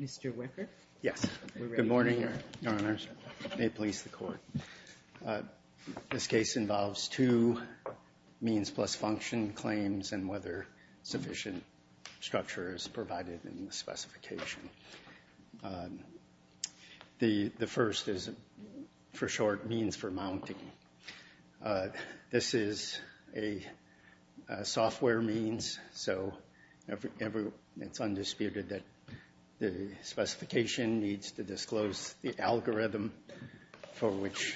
Mr. Wecker, we're ready to hear it Good morning, Your Honors, and may it please the Court. This case involves two means plus function claims and whether sufficient structure is provided in the specification. The first is, for short, means for mounting. This is a software means, so it's undisputed that the specification needs to disclose the algorithm for which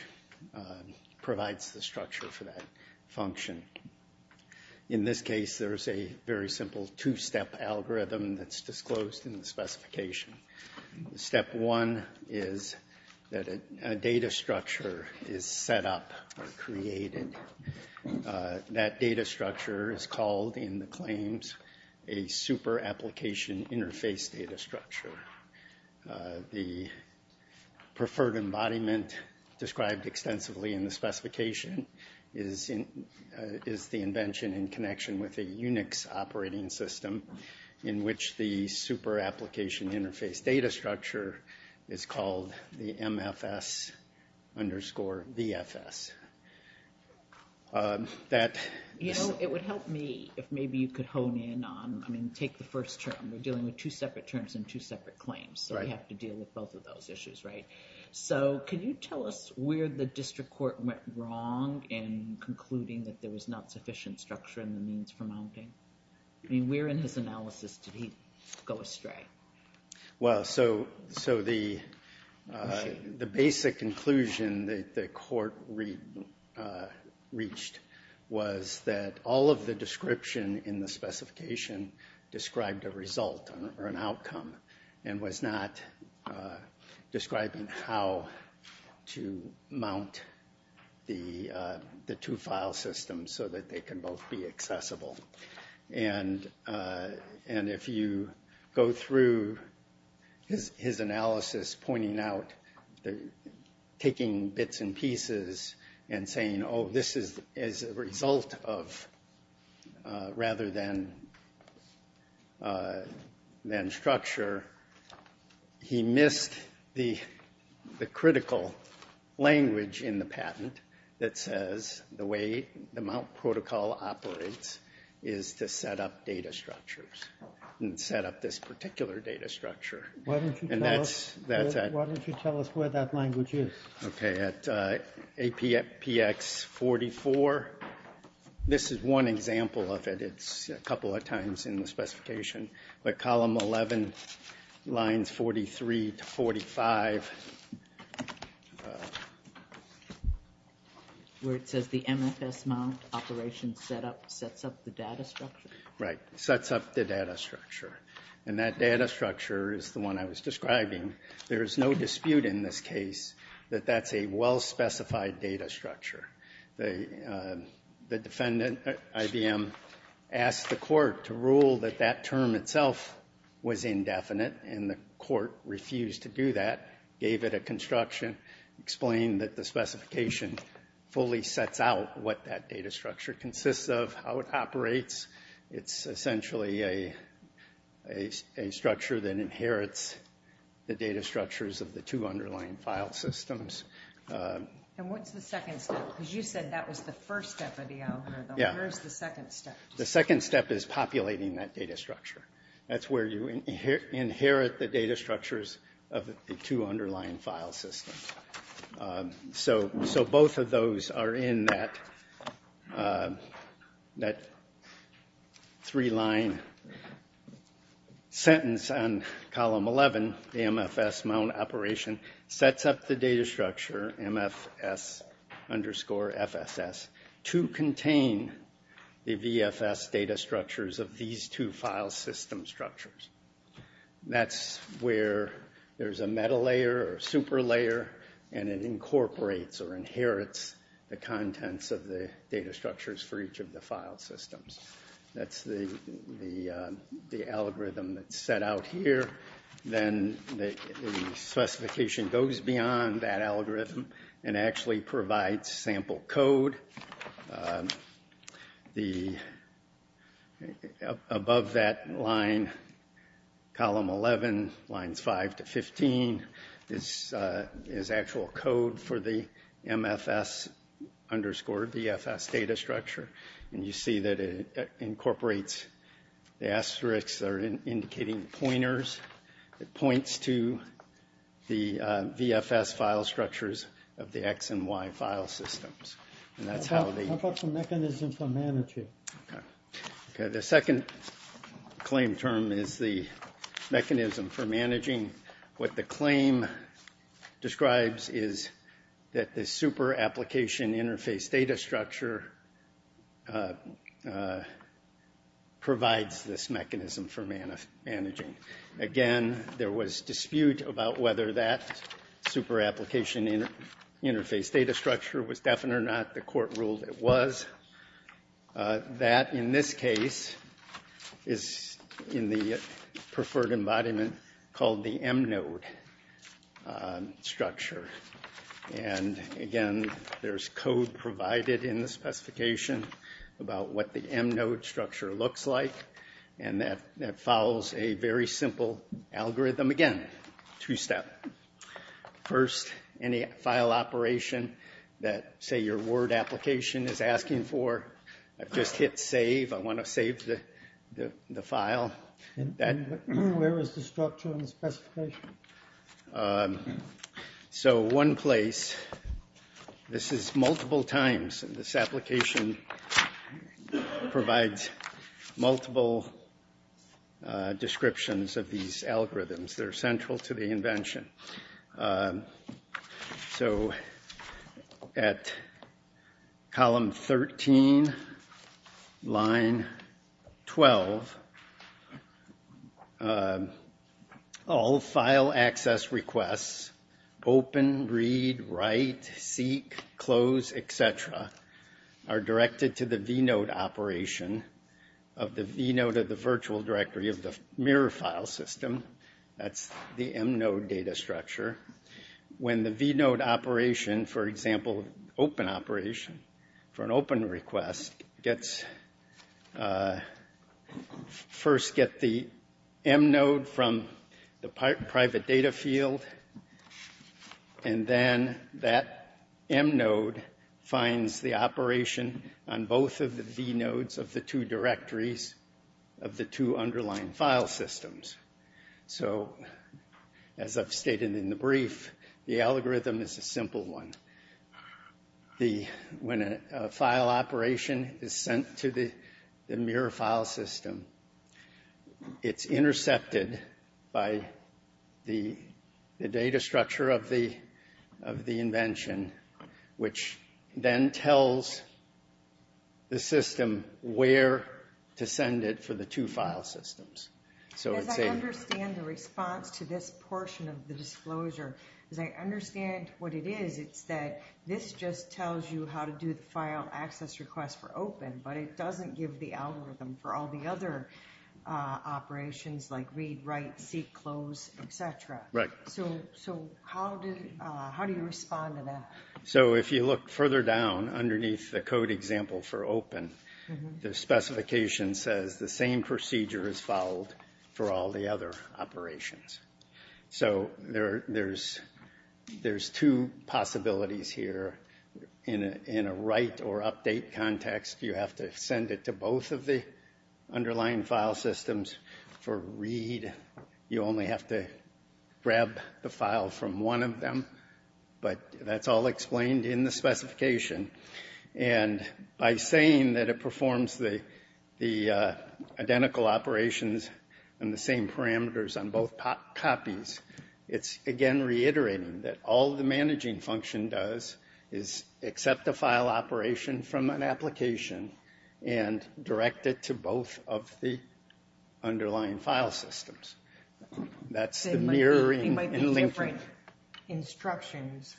it provides the structure for that function. In this case, there's a very simple two-step algorithm that's disclosed in the specification. Step one is that a data structure is set up or created. That data structure is called in the claims a super application interface data structure. The preferred embodiment described extensively in the specification is the invention in connection with a Unix operating system in which the super application interface data structure is called the MFS underscore VFS. You know, it would help me if maybe you could hone in on, I mean, take the first term. We're dealing with two separate terms and two separate claims, so we have to deal with both of those issues, right? So can you tell us where the district court went wrong in concluding that there was not sufficient structure in the means for mounting? I mean, where in his analysis did he go astray? Well, so the basic conclusion that the court reached was that all of the description in the specification described a result or an outcome and was not describing how to mount the two file systems so that they can both be mounted. And if you go through his analysis pointing out, taking bits and pieces and saying, oh, this is a result of rather than structure, he missed the critical language in the patent that says the way the mount protocol operates is to set up data structures and set up this particular data structure. Why don't you tell us where that language is? Okay, at APX 44, this is one example of it. It's a couple of times in the specification, but column 11, lines 43 to 45. Where it says the MFS mount operation sets up the data structure? Right, sets up the data structure. And that data structure is the one I was describing. There is no dispute in this case that that's a well-specified data structure. The defendant, IBM, asked the court to rule that that term itself was indefinite, and the court refused to do that, gave it a construction, explained that the specification fully sets out what that data structure consists of, how it operates. It's essentially a structure that inherits the data structures of the two underlying file systems. And what's the second step? Because you said that was the first step of the algorithm. Yeah. Where's the second step? The second step is populating that data structure. That's where you inherit the data structures of the two underlying file systems. So both of those are in that three-line sentence on column 11, the MFS mount operation sets up the data structure, MFS underscore FSS, to contain the VFS data structures of these two file system structures. That's where there's a meta-layer or super-layer, and it incorporates or inherits the contents of the data structures for each of the file systems. That's the algorithm that's set out here. Then the specification goes beyond that algorithm and actually provides sample code. Above that line, column 11, lines 5 to 15, is actual code for the MFS underscore VFS data structure. And you see that it incorporates the asterisks that are indicating pointers. It points to the VFS file structures of the X and Y file systems. And that's how they... How about the mechanism for managing? Okay. The second claim term is the mechanism for managing. What the claim describes is that the super-application interface data structure provides this mechanism for managing. Again, there was dispute about whether that super-application interface data structure was definite or not. The court ruled it was. That, in this case, is in the preferred embodiment called the M-node structure. And again, there's code provided in the specification about what the M-node structure looks like. And that follows a very simple algorithm. Again, two-step. First, any file operation that, say, your Word application is asking for, I've just hit save. I want to save the file. And where is the structure in the specification? So, one place. This is multiple times. And this application provides multiple descriptions of these algorithms that are central to the invention. So, at column 13, line 12, all file access requests, open, read, write, seek, close, et cetera, are directed to the V-node operation of the V-node of the virtual directory of the mirror file system. That's the M-node data structure. When the V-node operation, for example, open operation, for an open request, first gets the M-node from the private data field. And then that M-node finds the operation on both of the V-nodes of the two directories of the two underlying file systems. So, as I've stated in the brief, the algorithm is a simple one. When a file operation is sent to the mirror file system, it's intercepted by the data structure of the invention, which then the response to this portion of the disclosure. As I understand what it is, it's that this just tells you how to do the file access request for open, but it doesn't give the algorithm for all the other operations like read, write, seek, close, et cetera. So, how do you respond to that? So, if you look further down underneath the code example for open, the specification says the same procedure is followed for all the other operations. So, there's two possibilities here. In a write or update context, you have to send it to both of the underlying file systems. For read, you only have to grab the file from one of them. But that's all explained in the specification. And by saying that it performs the identical operations and the same parameters on both copies, it's again reiterating that all the managing function does is accept the file operation from an application and direct it to both of the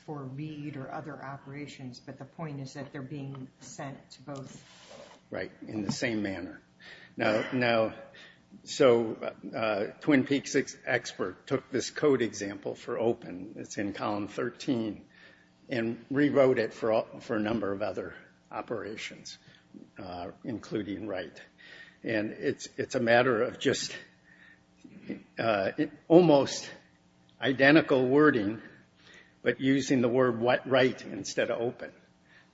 for read or other operations. But the point is that they're being sent to both. Right, in the same manner. So, Twin Peaks expert took this code example for open, it's in column 13, and rewrote it for a number of other operations, including write. And it's a matter of just almost identical wording, but using the word write instead of open.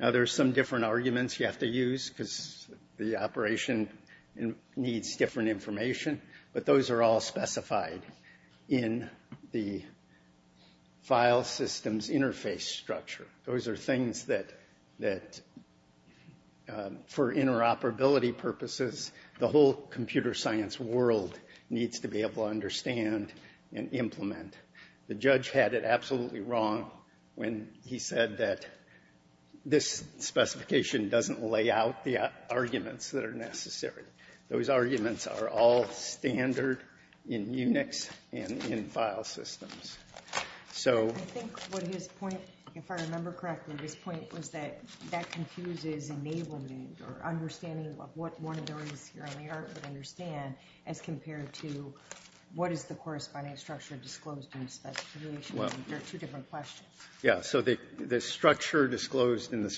Now, there's some different arguments you have to use because the operation needs different information, but those are all specified in the file systems interface structure. Those are things that, for interoperability purposes, the whole computer science world needs to be able to understand and implement. The judge had it absolutely wrong when he said that this specification doesn't lay out the arguments that are necessary. Those arguments are all standard in Unix and in file systems. I think what his point, if I remember correctly, his point was that that confuses enablement or understanding of what one of those here on the art would understand as compared to what is the corresponding structure disclosed in the specification. There are two different questions. Yeah, so the structure disclosed in the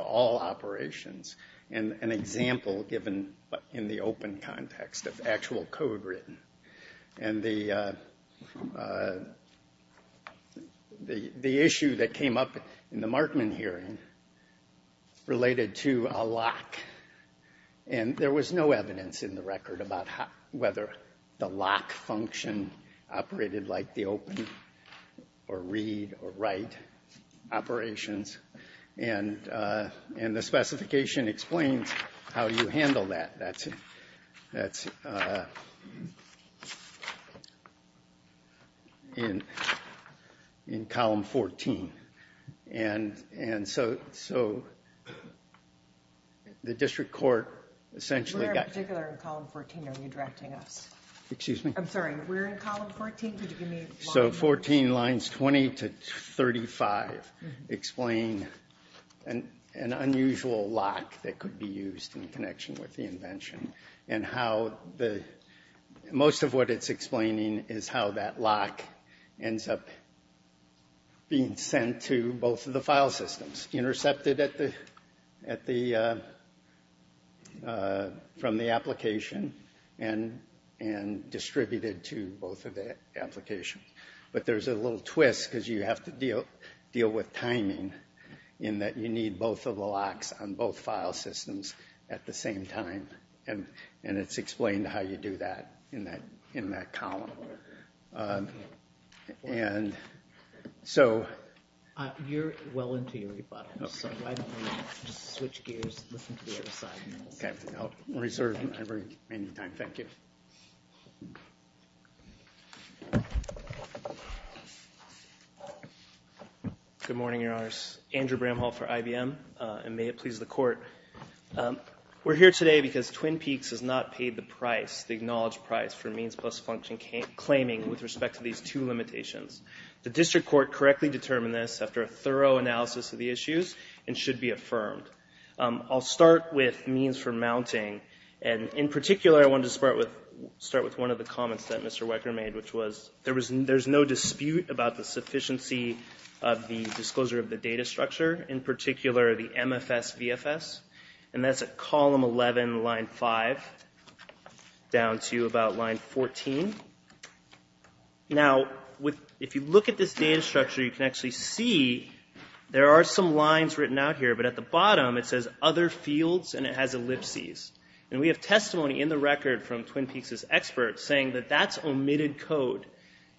all operations, and an example given in the open context of actual code written. And the issue that came up in the Markman hearing related to a lock. And there was no evidence in the record whether the lock function operated like the open or read or write operations. And the specification explains how you handle that. That's in column 14. And so the district court essentially got... Where in particular in column 14 are you directing us? Excuse me? I'm sorry, where in column 14 could you give me... So 14 lines 20 to 35 explain an unusual lock that could be used in connection with the invention. And how the most of what it's explaining is how that lock ends up being sent to both of the file systems intercepted at the from the application and distributed to both of the applications. But there's a little twist because you have to deal with timing in that you need both of the locks on both file systems at the same time. And it's explained how you do that in that column. And so... You're well into your rebuttal, so why don't you just switch gears and listen to the other side. Good morning, your honors. Andrew Bramhall for IBM, and may it please the court. We're here today because Twin Peaks has not paid the price, the acknowledged price, for means plus function claiming with respect to these two limitations. The district court correctly determined this after a thorough analysis of the issues and should be affirmed. I'll start with means for mounting, and in particular I wanted to start with one of the comments that Mr. Wecker made, which was there's no dispute about the sufficiency of the disclosure of the data structure, in column 11, line 5, down to about line 14. Now, if you look at this data structure, you can actually see there are some lines written out here, but at the bottom it says other fields, and it has ellipses. And we have testimony in the record from Twin Peaks' experts saying that that's omitted code.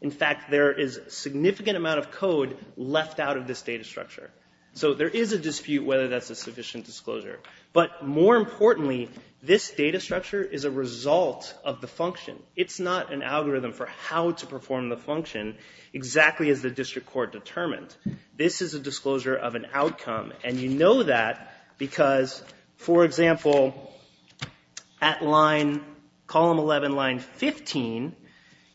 In fact, there is a significant amount of code left out of this data structure. So there is a dispute whether that's a sufficient disclosure. But more importantly, this data structure is a result of the function. It's not an algorithm for how to perform the function exactly as the district court determined. This is a disclosure of an outcome, and you know that because, for example, at line, column 11, line 15,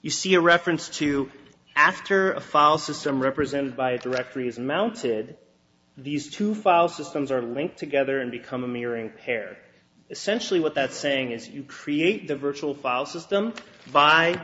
you see a reference to after a file system represented by a directory is mounted, these two file systems are linked together and become a mirroring pair. Essentially what that's saying is you create the virtual file system by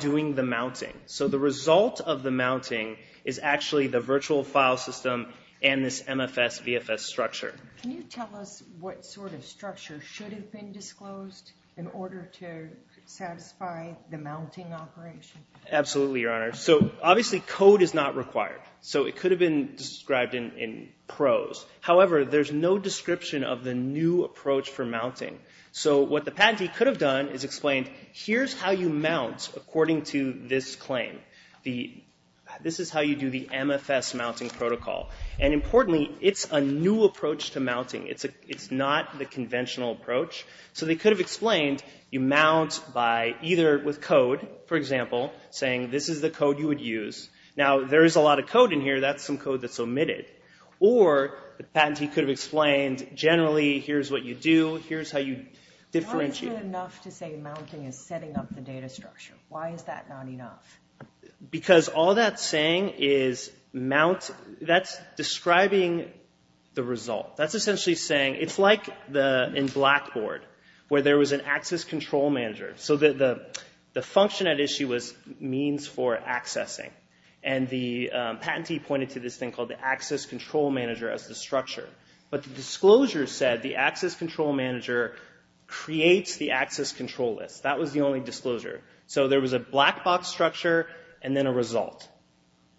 doing the mounting. So the result of the mounting is actually the virtual file system and this MFS VFS structure. Can you tell us what sort of structure should have been disclosed in order to satisfy the mounting operation? Absolutely, Your Honor. So obviously code is not required. So it could have been described in prose. However, there's no description of the new approach for mounting. So what the patentee could have done is explained here's how you mount according to this claim. This is how you do the MFS mounting protocol. And importantly, it's a new approach to mounting. It's not the conventional approach. So they could have explained you mount by either with code, for example, saying this is the code you would use. Now there is a lot of code in here. That's some code that's omitted. Or the patentee could have explained generally here's what you do, here's how you differentiate. Why is it enough to say mounting is setting up the data structure? Why is that not enough? Because all that's saying is mount, that's describing the result. That's saying it's like in Blackboard where there was an access control manager. So the function at issue was means for accessing. And the patentee pointed to this thing called the access control manager as the structure. But the disclosure said the access control manager creates the access control list. That was the only disclosure. So there was a black box structure and then a result.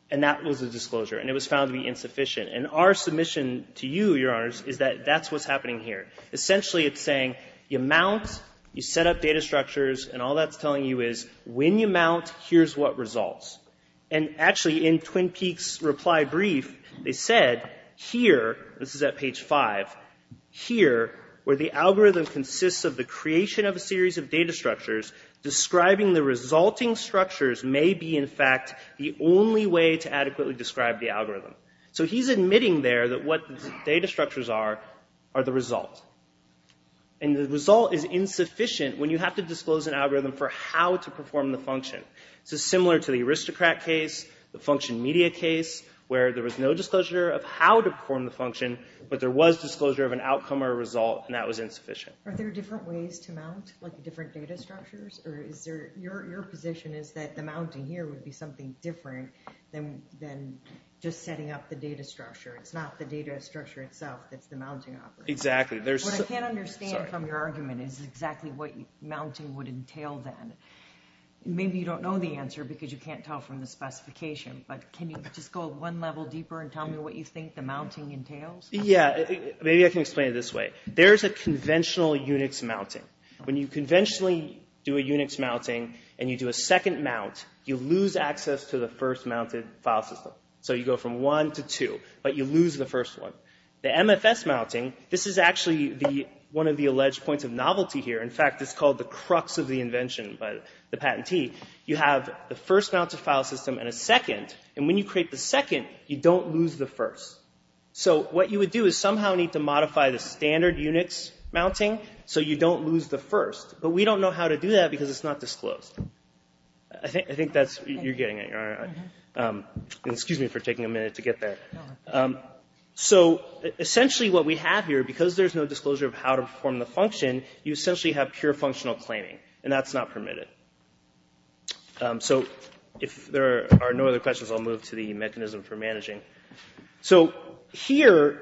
And that was the disclosure. And it was found to be insufficient. And our submission to you, is that that's what's happening here. Essentially it's saying you mount, you set up data structures, and all that's telling you is when you mount, here's what results. And actually in Twin Peaks reply brief, they said here, this is at page five, here where the algorithm consists of the creation of a series of data structures, describing the resulting structures may be in fact the only way to adequately describe the algorithm. So he's admitting there that what the data structures are, are the result. And the result is insufficient when you have to disclose an algorithm for how to perform the function. This is similar to the aristocrat case, the function media case, where there was no disclosure of how to perform the function, but there was disclosure of an outcome or result and that was insufficient. Are there different ways to mount different data structures? Or is there, your position is that the mounting here would be something different than just setting up the data structure. It's not the data structure itself that's the mounting operator. Exactly. What I can't understand from your argument is exactly what mounting would entail then. Maybe you don't know the answer because you can't tell from the specification, but can you just go one level deeper and tell me what you think the mounting entails? Yeah, maybe I can explain it this way. There's a conventional Unix mounting. When you conventionally do a Unix mounting and you do a second mount, you lose access to the first mounted file system. So you go from one to two, but you lose the first one. The MFS mounting, this is actually one of the alleged points of novelty here. In fact, it's called the crux of the invention by the patentee. You have the first mounted file system and a second. And when you create the second, you don't lose the first. So what you would do is somehow need to modify the standard Unix mounting so you don't lose the first. But we don't know how to do that because it's not disclosed. I think you're getting it. Excuse me for taking a minute to get there. So essentially what we have here, because there's no disclosure of how to perform the function, you essentially have pure functional claiming. And that's not permitted. So if there are no other questions, I'll move to the mechanism for managing. So here,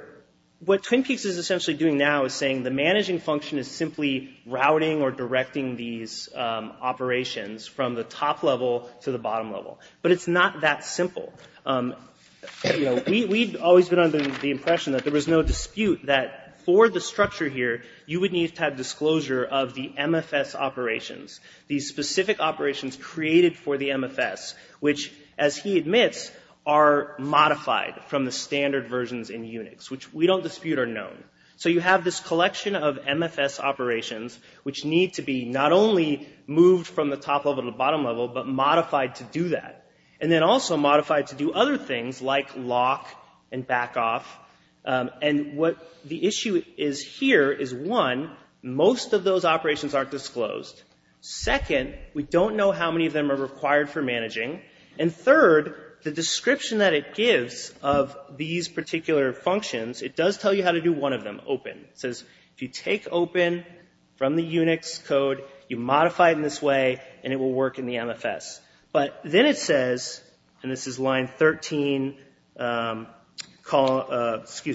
what TwinPeaks is essentially doing now is saying the managing function is simply routing or directing these operations from the top level to the bottom level. But it's not that simple. We've always been under the impression that there was no dispute that for the structure here, you would need to have disclosure of the MFS operations. These specific operations created for the MFS, which as he admits, are modified from the standard versions in Unix, which we don't dispute are known. So you have this collection of MFS operations which need to be not only moved from the top level to the bottom level, but modified to do that. And then also modified to do other things like lock and back off. And what the issue is here is one, most of those operations aren't disclosed. Second, we don't know how many of them are required for managing. And third, the description that it gives of these particular functions, it does tell you how to do one of them, open. It says if you take open from the Unix code, you modify it in this way, and it will work in the MFS. But then it says, and this is line 13, excuse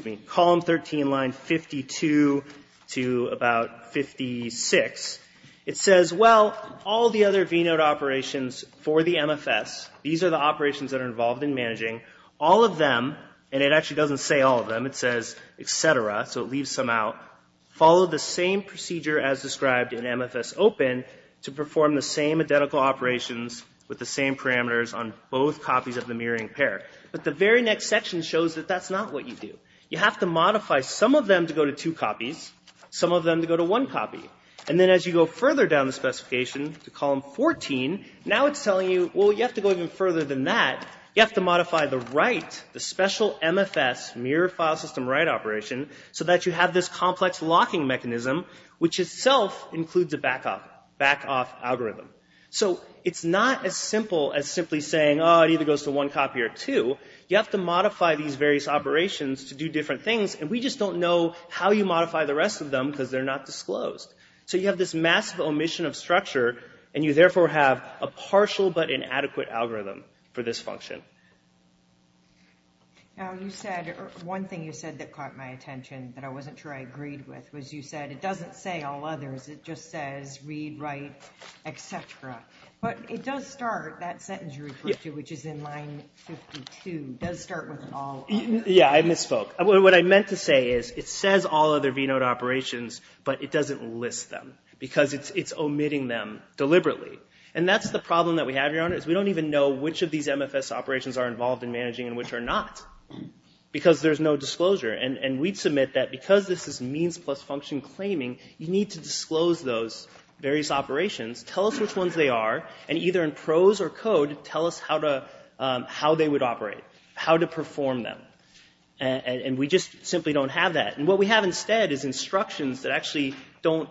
me, column 13, line 52 to about 56, it says, well, all the other vnode operations for the MFS, these are the operations that are involved in managing, all of them, and it actually doesn't say all of them, it says et cetera, so it leaves some out. Follow the same procedure as described in MFS open to perform the same identical operations with the same parameters on both copies of the mirroring pair. But the very next section shows that that's not what you do. You have to modify some of them to go to two copies, some of them to go to one copy. And then as you go further down the specification to column 14, now it's telling you, well, you have to go even further than that. You have to modify the write, the special MFS mirror file system write operation, so that you have this complex locking mechanism, which itself includes a back off, back off algorithm. So it's not as simple as simply saying, oh, it either goes to one copy or two. You have to modify these various operations to do different things, and we just don't know how you modify the rest of them because they're not disclosed. So you have this massive omission of structure, and you therefore have a partial but inadequate algorithm for this One thing you said that caught my attention that I wasn't sure I agreed with was you said it doesn't say all others, it just says read, write, etc. But it does start, that sentence you refer to, which is in line 52, does start with all. Yeah, I misspoke. What I meant to say is it says all other VNOD operations, but it doesn't list them because it's omitting them deliberately. And that's the problem that we have, Your Honor, is we don't even know which of these MFS operations are involved in because there's no disclosure. And we'd submit that because this is means plus function claiming, you need to disclose those various operations, tell us which ones they are, and either in prose or code, tell us how they would operate, how to perform them. And we just simply don't have that. And what we have instead is instructions that actually don't,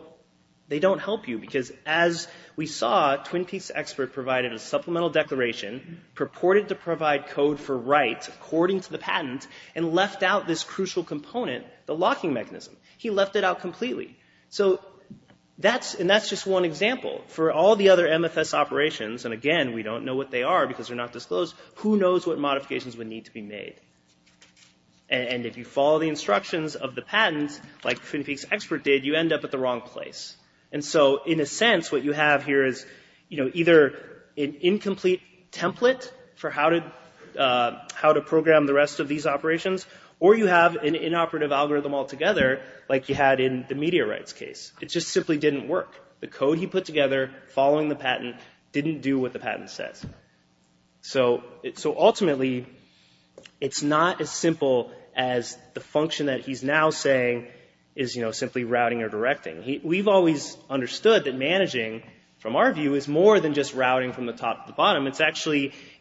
they don't help you because as we saw, TwinPeaks Expert provided a supplemental declaration, purported to provide code for write according to the patent, and left out this crucial component, the locking mechanism. He left it out completely. So that's, and that's just one example. For all the other MFS operations, and again we don't know what they are because they're not disclosed, who knows what modifications would need to be made. And if you follow the instructions of the patent, like TwinPeaks Expert did, you end up at the wrong place. And so in a sense what you have here is, you know, either an incomplete template for how to program the rest of these operations, or you have an inoperative algorithm altogether, like you had in the media rights case. It just simply didn't work. The code he put together, following the patent, didn't do what the patent says. So ultimately it's not as simple as the function that he's now saying is, you know, simply routing or directing. We've always understood that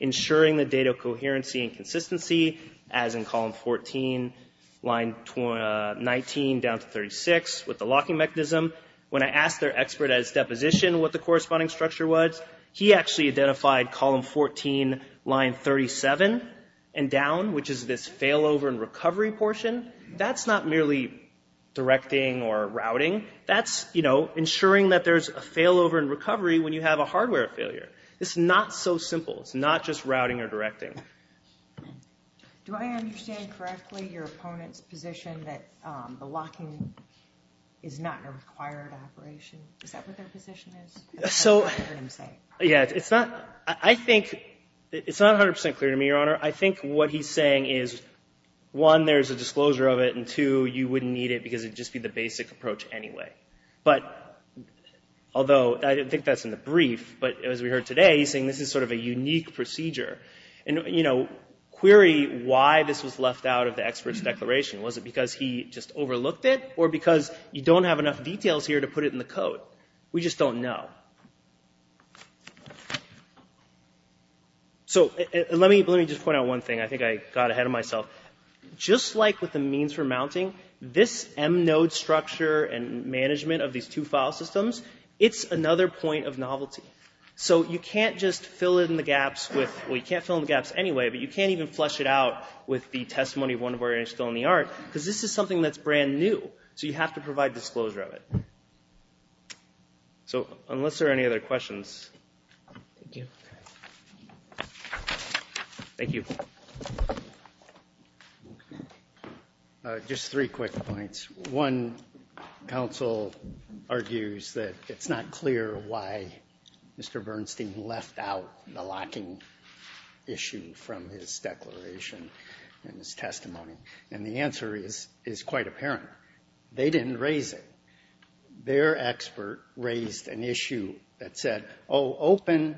ensuring the data coherency and consistency, as in column 14, line 19, down to 36, with the locking mechanism. When I asked their expert at his deposition what the corresponding structure was, he actually identified column 14, line 37, and down, which is this failover and recovery portion. That's not merely directing or routing. That's, you know, ensuring that there's a failover and recovery. So it's not just routing or directing. Do I understand correctly your opponent's position that the locking is not a required operation? Is that what their position is? So, yeah, it's not, I think, it's not 100% clear to me, Your Honor. I think what he's saying is, one, there's a disclosure of it, and two, you wouldn't need it because it'd just be the basic approach anyway. But, although I think that's in the brief, but as we heard today, he's saying this is sort of a unique procedure. And, you know, query why this was left out of the expert's declaration. Was it because he just overlooked it? Or because you don't have enough details here to put it in the code? We just don't know. So, let me just point out one thing. I think I got ahead of myself. Just like with the means for mounting, this M-node structure and management of these two file systems, it's another point of novelty. So you can't just fill in the gaps with, well, you can't fill in the gaps anyway, but you can't even flesh it out with the testimony of one of our initials in the art, because this is something that's brand new. So you have to provide disclosure of it. So, unless there are any other questions. Thank you. Just three quick points. One, counsel argues that it's not clear why Mr. Bernstein left out the locking issue from his declaration and his testimony. And the answer is quite apparent. They didn't raise it. Their expert raised an issue that said, oh, open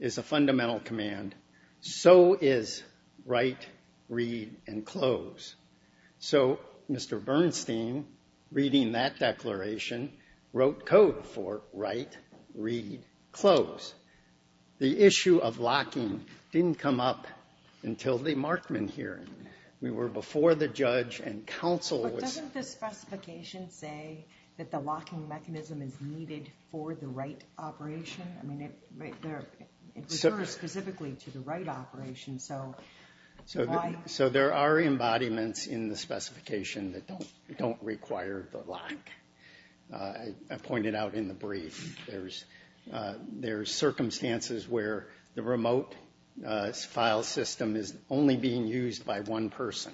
is a fundamental command. So is write, read, and close. So, Mr. Bernstein, reading that declaration, wrote code for write, read, close. The issue of locking didn't come up until the Markman hearing. We were before the judge and counsel. But doesn't the specification say that the locking mechanism is needed for the operation? I mean, it refers specifically to the write operation, so why? So there are embodiments in the specification that don't require the lock. I pointed out in the brief, there's circumstances where the remote file system is only being used by one person.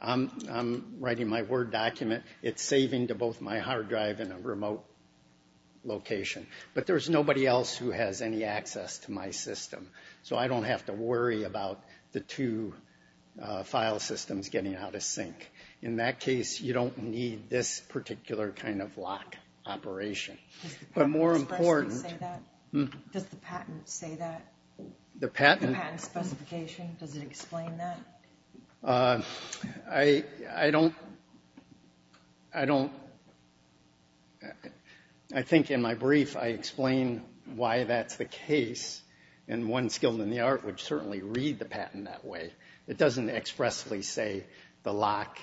I'm writing my Word document, it's saving to both my hard drive and a remote location. But there's nobody else who has any access to my system. So I don't have to worry about the two file systems getting out of sync. In that case, you don't need this particular kind of lock operation. But more important... Does the patent say that? The patent? Patent specification, does it explain that? I think in my brief, I explain why that's the case. And one skilled in the art would certainly read the patent that way. It doesn't expressly say the lock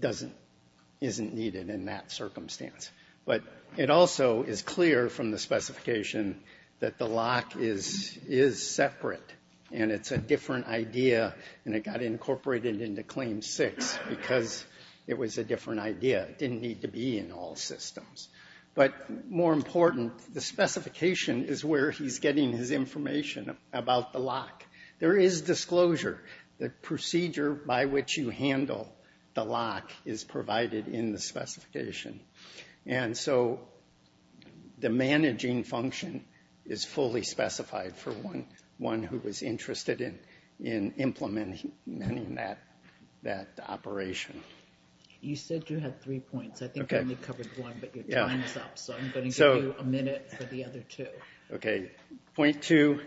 isn't needed in that circumstance. But it also is clear from the specification that the lock is separate. And it's a different idea, and it got incorporated into Claim 6 because it was a different idea. It didn't need to be in all systems. But more important, the specification is where he's getting his information about the lock. There is disclosure. The procedure by which you handle the lock is provided in the specification. And so the managing function is fully specified for one who is interested in implementing that operation. You said you had three points. I think you only covered one, but your time is up. So I'm going to give you a minute for the other two. Okay. Point two,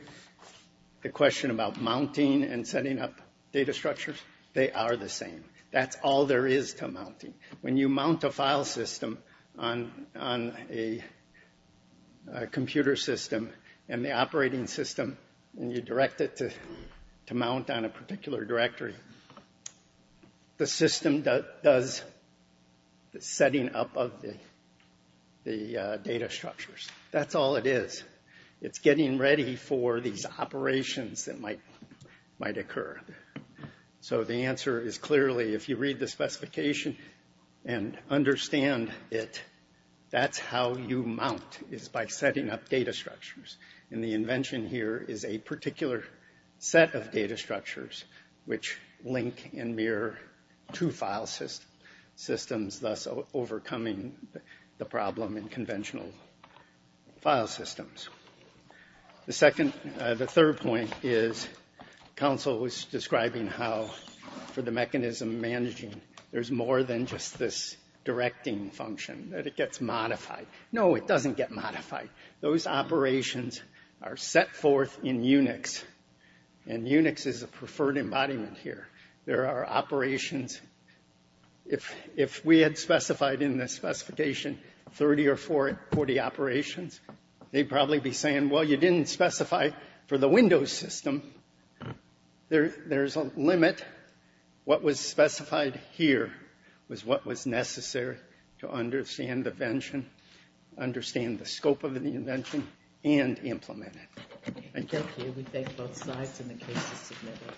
the question about mounting and setting up data structures, they are the same. That's all there is to mounting. When you mount a file system on a computer system and the operating system, and you direct it to mount on a particular directory, the system does the setting up of the data structures. That's all it is. It's getting ready for these operations that might occur. So the answer is clearly, if you read the specification and understand it, that's how you mount, is by setting up data structures. And the invention here is a particular set of data structures which link and mirror two file systems, thus overcoming the problem in conventional file systems. The third point is, counsel was describing how, for the mechanism managing, there's more than just this directing function, that it gets modified. No, it doesn't get modified. Those operations are set forth in Unix. And Unix is a preferred embodiment here. There are operations, if we had specified in the specification 30 or 40 operations, they'd probably be saying, well, you didn't specify for the Windows system. There's a limit. What was specified here was what was necessary to understand the invention, understand the scope of the invention, and implement it. I thank you. We thank both sides and the case is submitted.